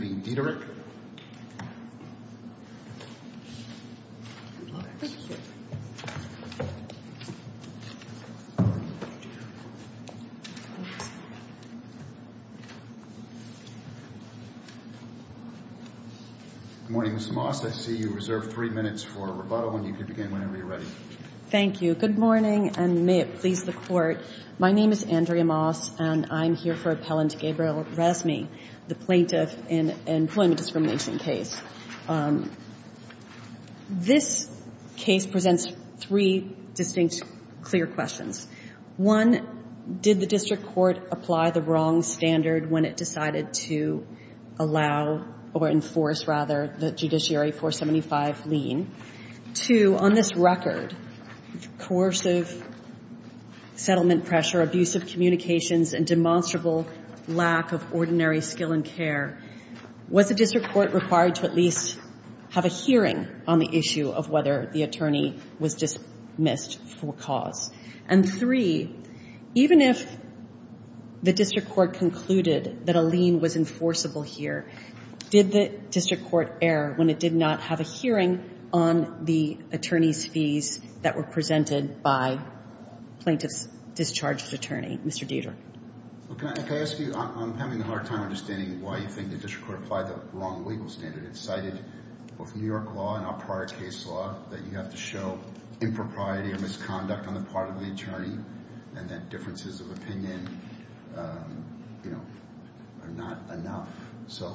Good morning, Ms. Moss. I see you reserved three minutes for rebuttal, and you can begin whenever you're ready. Thank you. Good morning, and may it please the Court, my name is Andrea Rasmy, the plaintiff in an employment discrimination case. This case presents three distinct clear questions. One, did the district court apply the wrong standard when it decided to allow or enforce, rather, the Judiciary 475 lien? Two, on this record, coercive settlement pressure, abusive communications, and demonstrable lack of ordinary skill and care, was the district court required to at least have a hearing on the issue of whether the attorney was dismissed for cause? And three, even if the district court concluded that a lien was enforceable here, did the district court err when it did not have a hearing on the attorney's fees that were presented by the plaintiff's discharged attorney? Mr. Dieter. Can I ask you, I'm having a hard time understanding why you think the district court applied the wrong legal standard. It cited both New York law and our prior case law that you have to show impropriety or misconduct on the part of the attorney, and that differences of opinion, you know, are not enough. So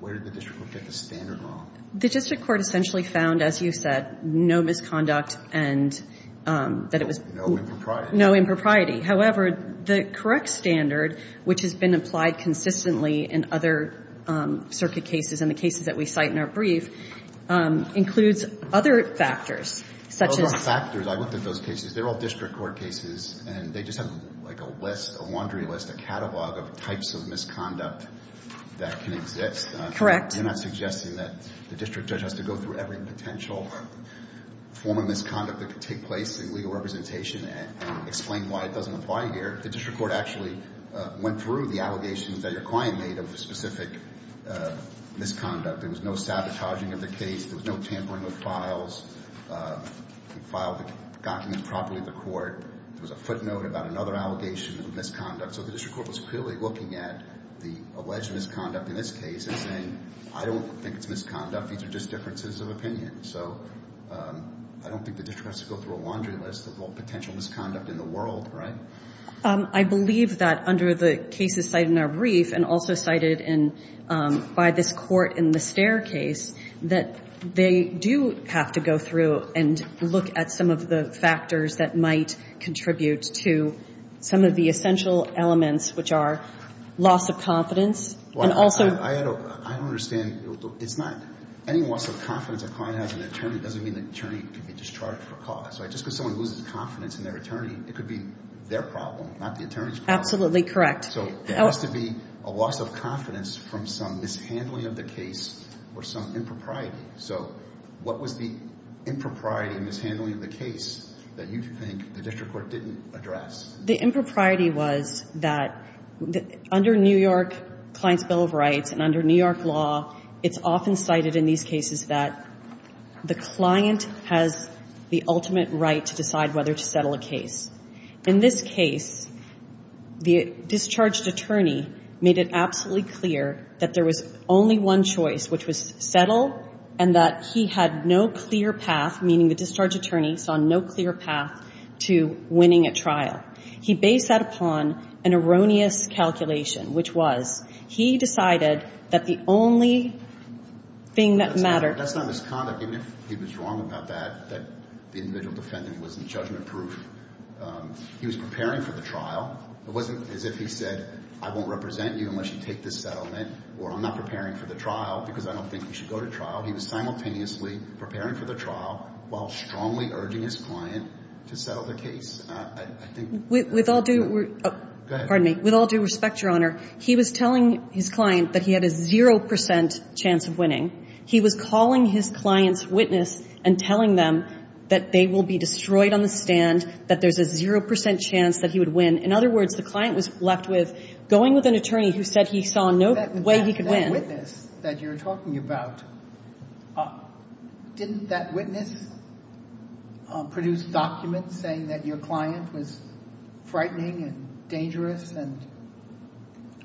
where did the district court get the standard wrong? The district court essentially found, as you said, no misconduct and that it was no impropriety. However, the correct standard, which has been applied consistently in other circuit cases and the cases that we cite in our brief, includes other factors, such as factors. I looked at those cases. They're all district court cases, and they just have like a list, a laundry list, a catalog of types of misconduct that can exist. Correct. I'm not suggesting that the district judge has to go through every potential form of misconduct that could take place in legal representation and explain why it doesn't apply here. The district court actually went through the allegations that your client made of a specific misconduct. There was no sabotaging of the case. There was no tampering with files. We filed the document properly at the court. There was a footnote about another allegation of misconduct. So the district court was clearly looking at the alleged misconduct in this case and saying, I don't think it's misconduct. These are just differences of opinion. So I don't think the district court has to go through a laundry list of all potential misconduct in the world, right? I believe that under the cases cited in our brief and also cited by this court in the Stare case, that they do have to go through and look at some of the factors that might contribute to some of the essential elements, which are loss of confidence. I don't understand. It's not any loss of confidence. A client has an attorney doesn't mean the attorney can be discharged for a cause. Just because someone loses confidence in their attorney, it could be their problem, not the attorney's problem. Absolutely correct. So there has to be a loss of confidence from some mishandling of the case or some impropriety. So what was the impropriety and mishandling of the case that you think the district court didn't address? The impropriety was that under New York Client's Bill of Rights and under New York law, it's often cited in these cases that the client has the ultimate right to decide whether to settle a case. In this case, the discharged attorney made it absolutely clear that there was only one choice, which was settle, and that he had no clear path, meaning the discharged attorney saw no clear path to winning a trial. He based that upon an erroneous calculation, which was he decided that the only thing that mattered. That's not misconduct. Even if he was wrong about that, that the individual defendant wasn't judgment-proof, he was preparing for the trial. It wasn't as if he said, I won't represent you unless you take this settlement or I'm not preparing for the trial because I don't think you should go to trial. He was simultaneously preparing for the trial while strongly urging his client to settle the case. I think that's what he said. With all due respect, Your Honor, he was telling his client that he had a 0 percent chance of winning. He was calling his client's witness and telling them that they will be destroyed on the stand, that there's a 0 percent chance that he would win. In other words, the client was left with going with an attorney who said he saw no way he could win. That witness that you're talking about, didn't that witness produce documents saying that your client was frightening and dangerous?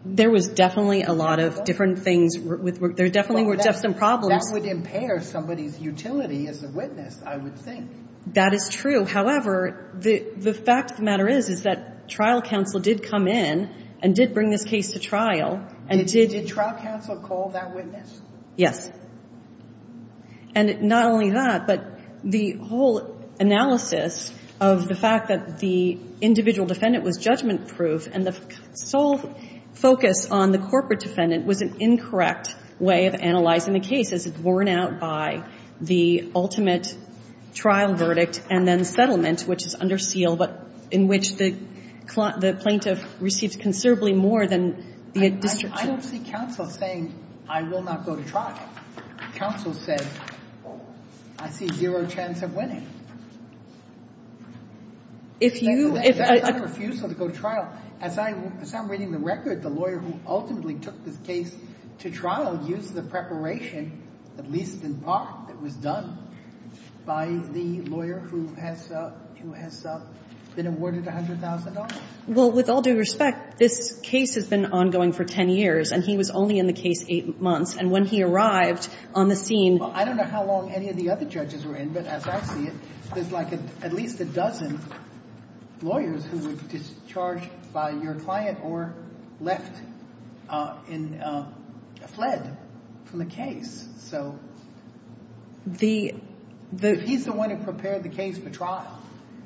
There was definitely a lot of different things. There definitely were some problems. That would impair somebody's utility as a witness, I would think. That is true. However, the fact of the matter is that trial counsel did come in and did bring this case to trial and did Did trial counsel call that witness? Yes. And not only that, but the whole analysis of the fact that the individual defendant was judgment-proof and the sole focus on the corporate defendant was an incorrect way of analyzing the case as worn out by the ultimate trial verdict and then settlement, which is under seal, but in which the plaintiff receives considerably more than the district judge. I don't see counsel saying, I will not go to trial. Counsel says, I see zero chance of winning. If you That's not a refusal to go to trial. As I'm reading the record, the lawyer who ultimately took this case to trial used the preparation, at least in part, that was done by the lawyer who has been awarded $100,000. Well, with all due respect, this case has been ongoing for 10 years, and he was only in the case 8 months. And when he arrived on the scene Well, I don't know how long any of the other judges were in, but as I see it, there's like at least a dozen lawyers who were discharged by your client or left and fled from the case. So he's the one who prepared the case for trial,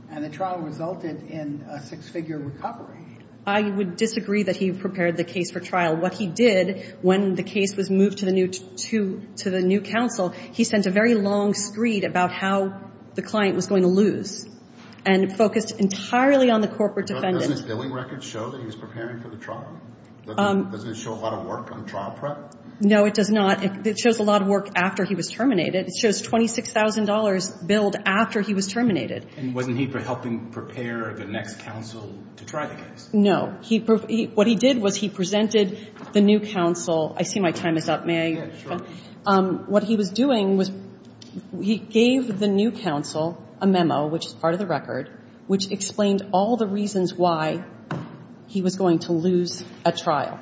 and the trial resulted in a six-figure recovery. I would disagree that he prepared the case for trial. What he did when the case was moved to the new counsel, he sent a very long screed about how the client was going to lose and focused entirely on the corporate defendant. Doesn't his billing record show that he was preparing for the trial? Doesn't it show a lot of work on trial prep? No, it does not. It shows a lot of work after he was terminated. It shows $26,000 billed after he was terminated. And wasn't he helping prepare the next counsel to try the case? No. What he did was he presented the new counsel. I see my time is up. May I? Yeah, sure. What he was doing was he gave the new counsel a memo, which is part of the record, which explained all the reasons why he was going to lose a trial,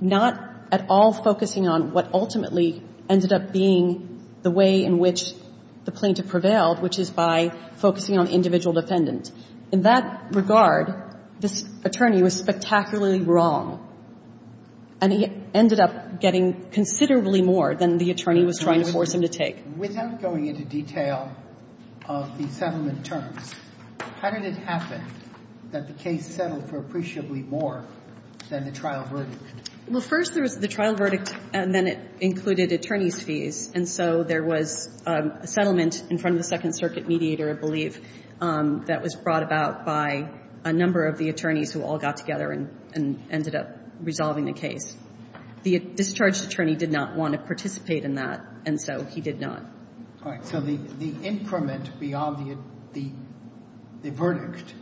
not at all focusing on what ultimately ended up being the way in which the plaintiff prevailed, which is by focusing on individual defendants. In that regard, this attorney was spectacularly wrong, and he ended up getting considerably more than the attorney was trying to force him to take. Without going into detail of the settlement terms, how did it happen that the case settled for appreciably more than the trial verdict? Well, first there was the trial verdict, and then it included attorney's fees. And so there was a settlement in front of the Second Circuit mediator, I believe, that was brought about by a number of the attorneys who all got together and ended up resolving the case. The discharged attorney did not want to participate in that, and so he did not. So the increment beyond the verdict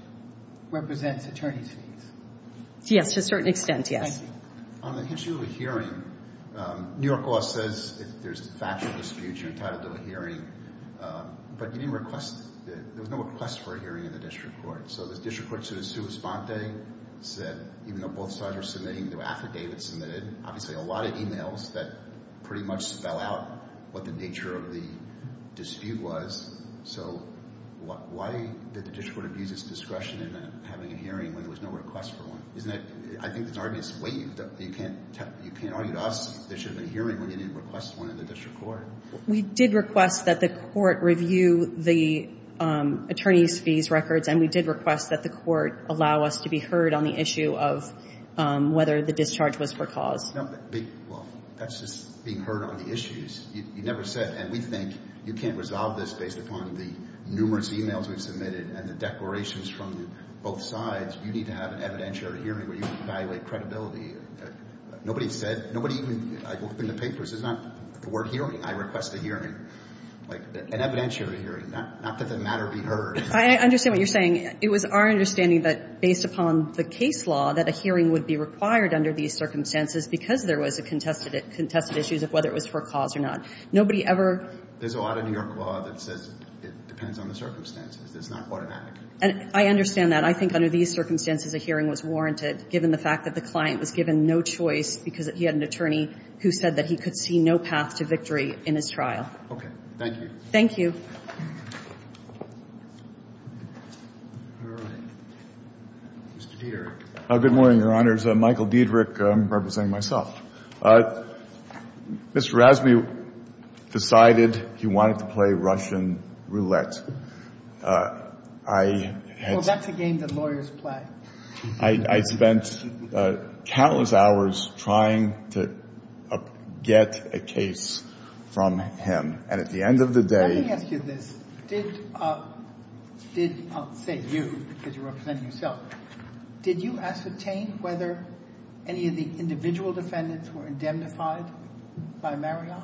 represents attorney's fees? Yes, to a certain extent, yes. Thank you. On the issue of a hearing, New York law says if there's a factual dispute, you're entitled to a hearing. But you didn't request the – there was no request for a hearing in the district court. So the district court's judge, Sue Esponte, said even though both sides were submitting the affidavit submitted, obviously a lot of e-mails that pretty much spell out what the nature of the dispute was. So why did the district court abuse its discretion in having a hearing when there was no request for one? Isn't that – I think that's already a slave. You can't argue to us there should have been a hearing when you didn't request one in the district court. We did request that the court review the attorney's fees records, and we did request that the court allow us to be heard on the issue of whether the discharge was for cause. Well, that's just being heard on the issues. You never said – and we think you can't resolve this based upon the numerous e-mails we've submitted and the declarations from both sides. You need to have an evidentiary hearing where you can evaluate credibility. Nobody said – nobody even opened the papers. It's not the word hearing. I request a hearing, like an evidentiary hearing, not that the matter be heard. I understand what you're saying. It was our understanding that, based upon the case law, that a hearing would be required under these circumstances because there was a contested issue of whether it was for cause or not. Nobody ever – There's a lot of New York law that says it depends on the circumstances. It's not automatic. I understand that. I think under these circumstances, a hearing was warranted, given the fact that the client was given no choice because he had an attorney who said that he could see no path to victory in his trial. Okay. Thank you. Thank you. All right. Mr. Diederich. Good morning, Your Honors. Michael Diederich, representing myself. Mr. Rasby decided he wanted to play Russian roulette. I had – Well, that's a game that lawyers play. I spent countless hours trying to get a case from him. And at the end of the day – Let me ask you this. Did – I'll say you because you're representing yourself. Did you ascertain whether any of the individual defendants were indemnified by Marriott?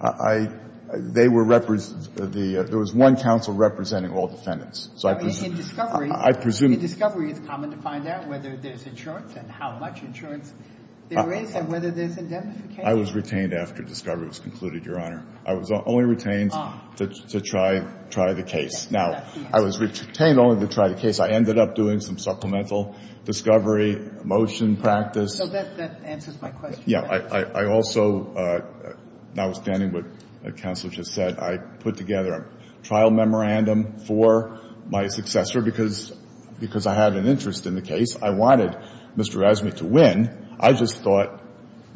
I – they were – there was one counsel representing all defendants. So I presume – In discovery – I presume – In discovery, it's common to find out whether there's insurance and how much insurance there is and whether there's indemnification. I was retained after discovery was concluded, Your Honor. I was only retained to try the case. Now, I was retained only to try the case. I ended up doing some supplemental discovery, motion practice. So that answers my question. Yeah. I also, notwithstanding what the counsel just said, I put together a trial memorandum for my successor because I had an interest in the case. I wanted Mr. Rasby to win. I just thought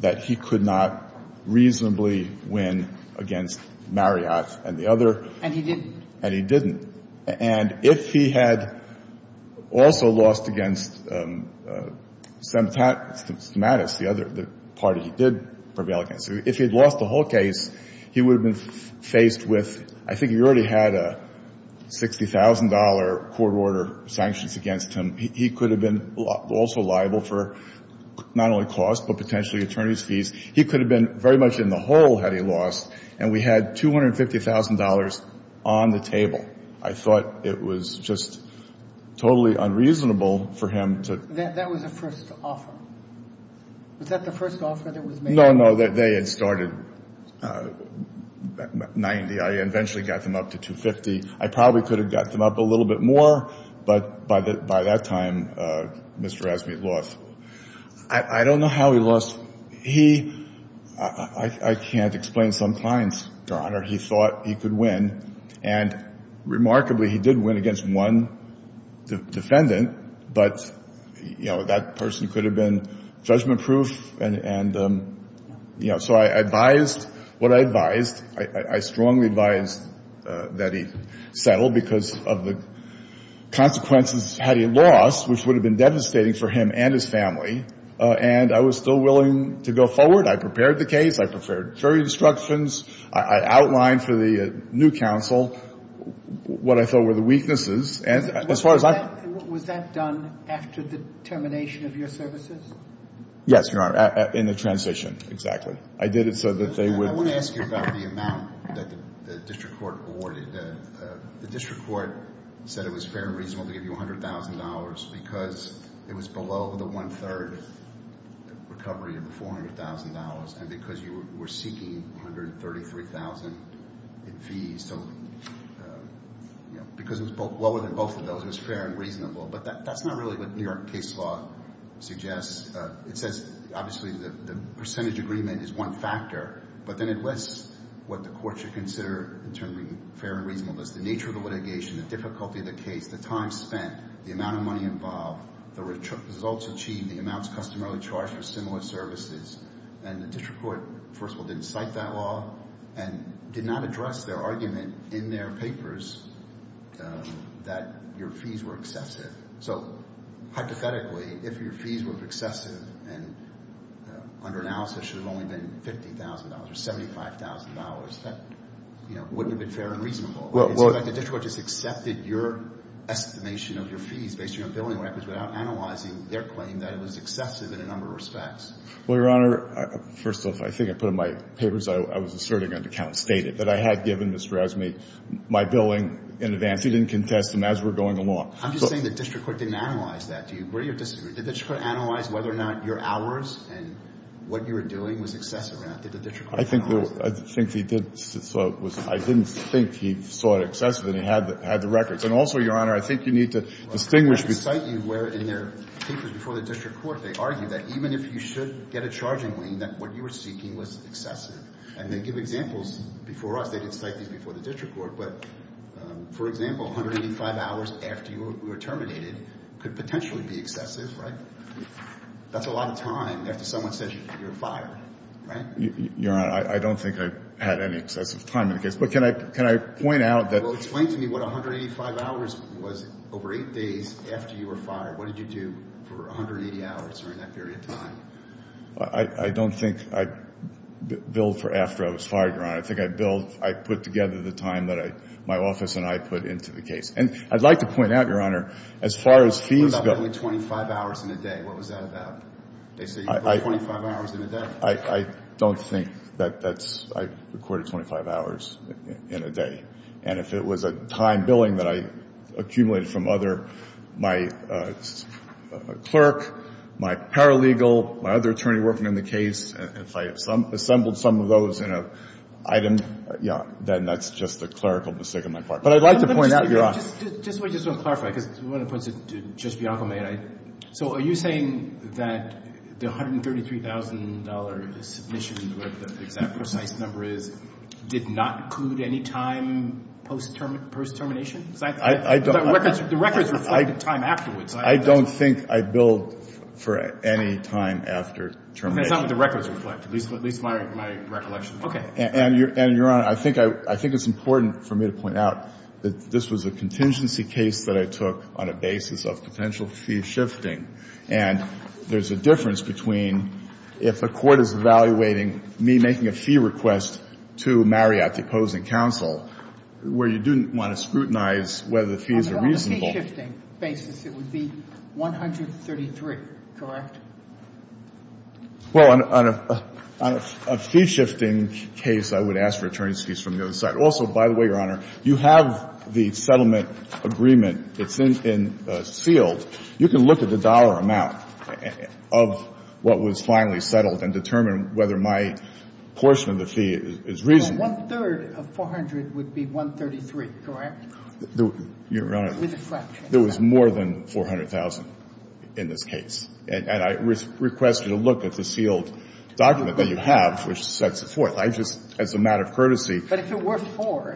that he could not reasonably win against Marriott and the other. And he didn't. And he didn't. And if he had also lost against Stamatis, the other – the party he did prevail against, if he had lost the whole case, he would have been faced with – I think he already had a $60,000 court order sanctions against him. He could have been also liable for not only cost but potentially attorney's fees. He could have been very much in the hole had he lost. And we had $250,000 on the table. I thought it was just totally unreasonable for him to – That was the first offer. Was that the first offer that was made? No, no. They had started 90. I eventually got them up to 250. I probably could have got them up a little bit more. But by that time, Mr. Rasby lost. I don't know how he lost. He – I can't explain some clients, Your Honor. He thought he could win. And remarkably, he did win against one defendant. But, you know, that person could have been judgment-proof. And, you know, so I advised what I advised. I strongly advised that he settle because of the consequences had he lost, which would have been devastating for him and his family. And I was still willing to go forward. I prepared the case. I prepared jury instructions. I outlined for the new counsel what I thought were the weaknesses. And as far as I – Was that done after the termination of your services? Yes, Your Honor, in the transition, exactly. I did it so that they would – Let me ask you about the amount that the district court awarded. The district court said it was fair and reasonable to give you $100,000 because it was below the one-third recovery of the $400,000 and because you were seeking $133,000 in fees. So, you know, because it was lower than both of those, it was fair and reasonable. But that's not really what New York case law suggests. It says, obviously, the percentage agreement is one factor. But then it lists what the court should consider in terms of being fair and reasonable. That's the nature of the litigation, the difficulty of the case, the time spent, the amount of money involved, the results achieved, the amounts customarily charged for similar services. And the district court, first of all, didn't cite that law and did not address their argument in their papers that your fees were excessive. So, hypothetically, if your fees were excessive and under analysis should have only been $50,000 or $75,000, that, you know, wouldn't have been fair and reasonable. It seems like the district court just accepted your estimation of your fees based on your billing records without analyzing their claim that it was excessive in a number of respects. Well, Your Honor, first off, I think I put it in my papers. I was asserting an account stated that I had given Mr. Azmi my billing in advance. He didn't contest them as we're going along. I'm just saying the district court didn't analyze that. Do you agree or disagree? Did the district court analyze whether or not your hours and what you were doing was excessive or not? Did the district court analyze that? I think he did. I didn't think he saw it excessive and he had the records. And also, Your Honor, I think you need to distinguish between the two. Well, they didn't cite you where in their papers before the district court they argued that even if you should get a charging lien, that what you were seeking was excessive. And they give examples before us. They didn't cite these before the district court. But, for example, 185 hours after you were terminated could potentially be excessive, right? That's a lot of time after someone says you're fired, right? Your Honor, I don't think I had any excessive time in the case. But can I point out that – Well, explain to me what 185 hours was over eight days after you were fired. What did you do for 180 hours during that period of time? I don't think I billed for after I was fired, Your Honor. I think I billed – I put together the time that my office and I put into the case. And I'd like to point out, Your Honor, as far as fees go – You billed only 25 hours in a day. What was that about? They say you billed 25 hours in a day. I don't think that that's – I recorded 25 hours in a day. And if it was a time billing that I accumulated from other – my clerk, my paralegal, my other attorney working on the case, if I assembled some of those in an item, yeah, then that's just a clerical mistake on my part. But I'd like to point out, Your Honor – Let me just – just one thing I want to clarify, because one of the points that Judge Bianco made, so are you saying that the $133,000 submission, whatever the exact precise number is, did not include any time post-termination? I don't – The records reflect the time afterwards. I don't think I billed for any time after termination. That's not what the records reflect, at least my recollection. Okay. And, Your Honor, I think it's important for me to point out that this was a contingency case that I took on a basis of potential fee shifting. And there's a difference between if a court is evaluating me making a fee request to Marriott, the opposing counsel, where you do want to scrutinize whether the fees are reasonable. On a fee shifting basis, it would be $133,000, correct? Well, on a fee shifting case, I would ask for attorney's fees from the other side. Also, by the way, Your Honor, you have the settlement agreement. It's in the field. You can look at the dollar amount of what was finally settled and determine whether my portion of the fee is reasonable. Well, one-third of $400,000 would be $133,000, correct? Your Honor, there was more than $400,000 in this case. And I requested a look at the sealed document that you have, which sets it forth. I just, as a matter of courtesy. But if it were four,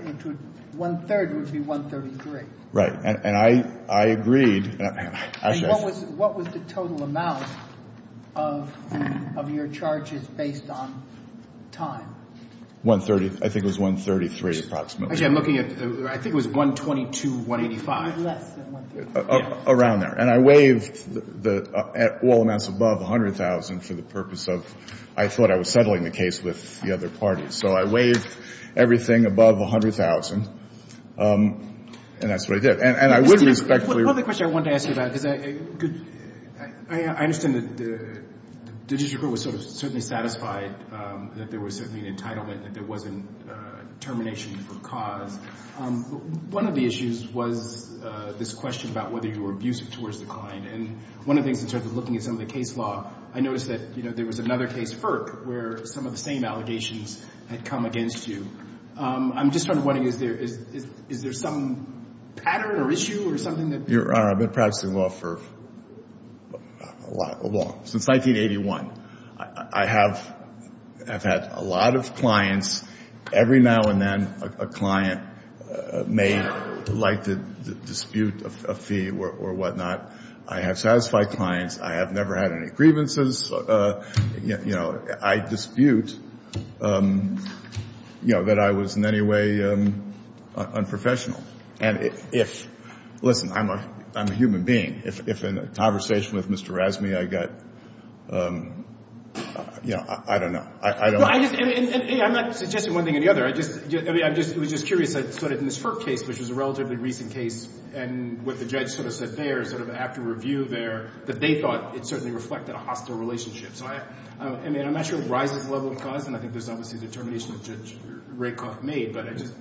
one-third would be $133,000. Right. And I agreed. And what was the total amount of your charges based on time? $130,000. I think it was $133,000 approximately. Actually, I'm looking at, I think it was $122,000, $185,000. Less than $133,000. Around there. And I waived all amounts above $100,000 for the purpose of, I thought I was settling the case with the other parties. So I waived everything above $100,000. And that's what I did. And I would respectfully. Well, the question I wanted to ask you about, because I understand that the district court was sort of certainly satisfied that there was certainly an entitlement and that there wasn't termination for cause. One of the issues was this question about whether you were abusive towards the client. And one of the things in terms of looking at some of the case law, I noticed that, you know, there was another case, FERC, where some of the same allegations had come against you. I'm just sort of wondering, is there some pattern or issue or something that You're right. I've been practicing law for a long, since 1981. I have had a lot of clients. Every now and then, a client may like to dispute a fee or whatnot. I have satisfied clients. I have never had any grievances. You know, I dispute, you know, that I was in any way unprofessional. And if, listen, I'm a human being. If in a conversation with Mr. Rasmey, I got, you know, I don't know. I don't know. I'm not suggesting one thing or the other. I'm just curious. In this FERC case, which was a relatively recent case, and what the judge sort of said there, sort of after review there, that they thought it certainly reflected a hostile relationship. So, I mean, I'm not sure it rises to the level of cause, and I think there's obviously determination that Judge Rakoff made, but I just.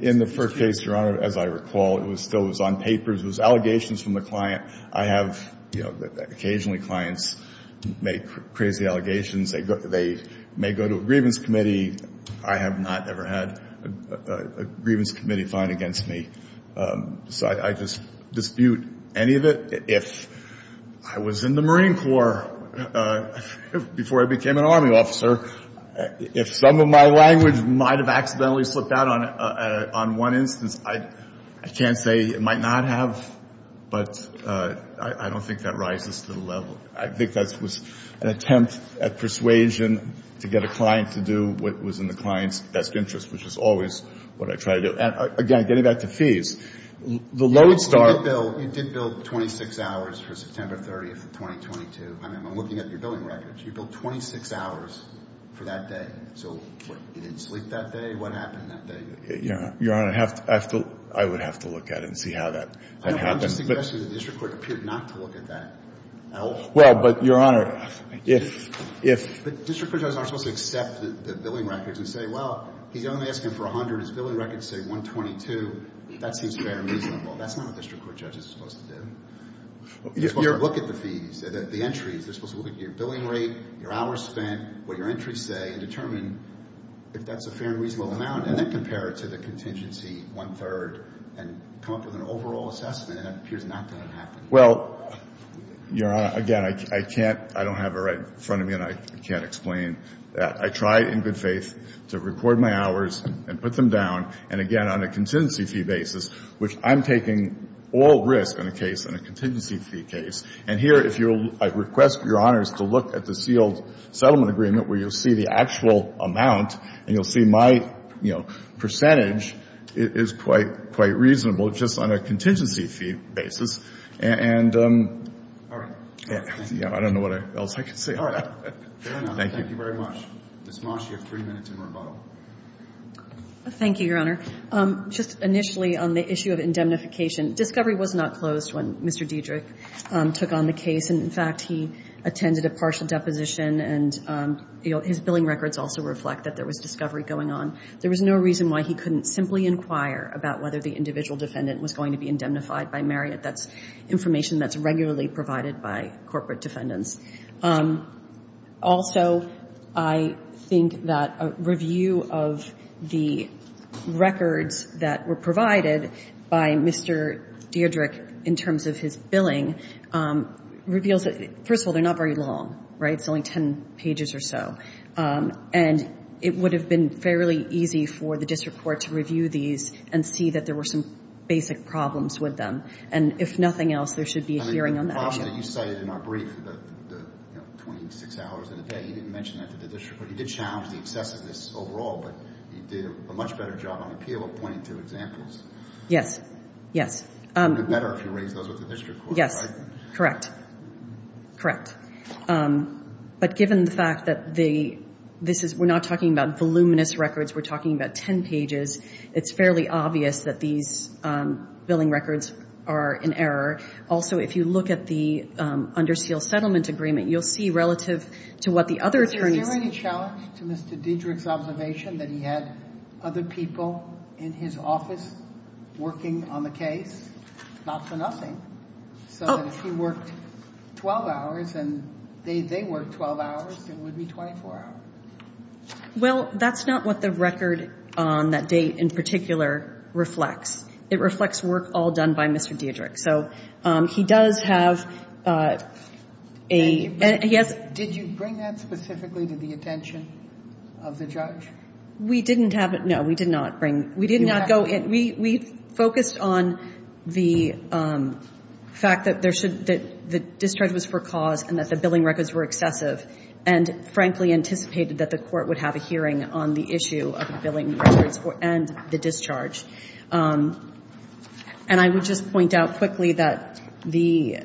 In the FERC case, Your Honor, as I recall, it was still on papers. It was allegations from the client. I have, you know, occasionally clients make crazy allegations. They may go to a grievance committee. I have not ever had a grievance committee filed against me. So I just dispute any of it. If I was in the Marine Corps before I became an Army officer, if some of my language might have accidentally slipped out on one instance, I can't say it might not have, but I don't think that rises to the level. I think that was an attempt at persuasion to get a client to do what was in the client's best interest, which is always what I try to do. And, again, getting back to fees. The loan start. You did bill 26 hours for September 30th of 2022. I'm looking at your billing records. You billed 26 hours for that day. So what, you didn't sleep that day? What happened that day? Your Honor, I would have to look at it and see how that happens. I'm just suggesting that the district court appeared not to look at that at all. Well, but, Your Honor, if — But district court judges aren't supposed to accept the billing records and say, well, he's only asking for 100. His billing records say 122. That seems fair and reasonable. That's not what district court judges are supposed to do. You're supposed to look at the fees, the entries. You're supposed to look at your billing rate, your hours spent, what your entries say, and determine if that's a fair and reasonable amount, and then compare it to the contingency, one-third, and come up with an overall assessment, and it appears not to have happened. Well, Your Honor, again, I can't — I don't have it right in front of me, and I can't explain that. I try, in good faith, to record my hours and put them down, and, again, on a contingency fee basis, which I'm taking all risk on a case, on a contingency fee case. And here, if you'll — I request, Your Honors, to look at the sealed settlement agreement, where you'll see the actual amount, and you'll see my, you know, percentage is quite — quite reasonable, just on a contingency fee basis. And — All right. Yeah. I don't know what else I can say. Fair enough. Thank you very much. Ms. Mosh, you have three minutes in rebuttal. Thank you, Your Honor. Just initially on the issue of indemnification, discovery was not closed when Mr. Dedrick took on the case. And, in fact, he attended a partial deposition, and, you know, his billing records also reflect that there was discovery going on. There was no reason why he couldn't simply inquire about whether the individual defendant was going to be indemnified by Marriott. That's information that's regularly provided by corporate defendants. Also, I think that a review of the records that were provided by Mr. Dedrick in terms of his billing reveals that — first of all, they're not very long, right? It's only 10 pages or so. And it would have been fairly easy for the district court to review these and see that there were some basic problems with them. And if nothing else, there should be a hearing on that. Also, you cited in our brief the 26 hours in a day. You didn't mention that to the district court. You did challenge the excesses of this overall, but you did a much better job on appeal of pointing to examples. Yes. Yes. It would have been better if you raised those with the district court, right? Yes. Correct. Correct. But given the fact that this is — we're not talking about voluminous records. We're talking about 10 pages. It's fairly obvious that these billing records are in error. Also, if you look at the Under Seal Settlement Agreement, you'll see relative to what the other attorneys — Is there any challenge to Mr. Dedrick's observation that he had other people in his office working on the case, not for nothing? So that if he worked 12 hours and they worked 12 hours, it would be 24 hours. Well, that's not what the record on that date in particular reflects. It reflects work all done by Mr. Dedrick. So he does have a — And did you bring that specifically to the attention of the judge? We didn't have — no, we did not bring — we did not go — we focused on the fact that there should — that the discharge was for cause and that the billing records were excessive and, frankly, anticipated that the court would have a hearing on the issue of the billing records and the discharge. And I would just point out quickly that the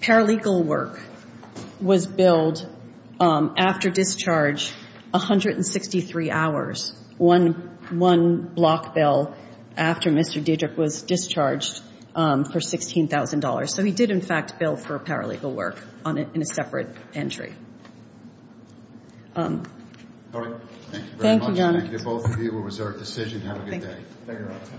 paralegal work was billed after discharge 163 hours, one block bill after Mr. Dedrick was discharged for $16,000. So he did, in fact, bill for paralegal work in a separate entry. All right. Thank you very much. Thank you, both of you. It was our decision. Have a good day. Thank you.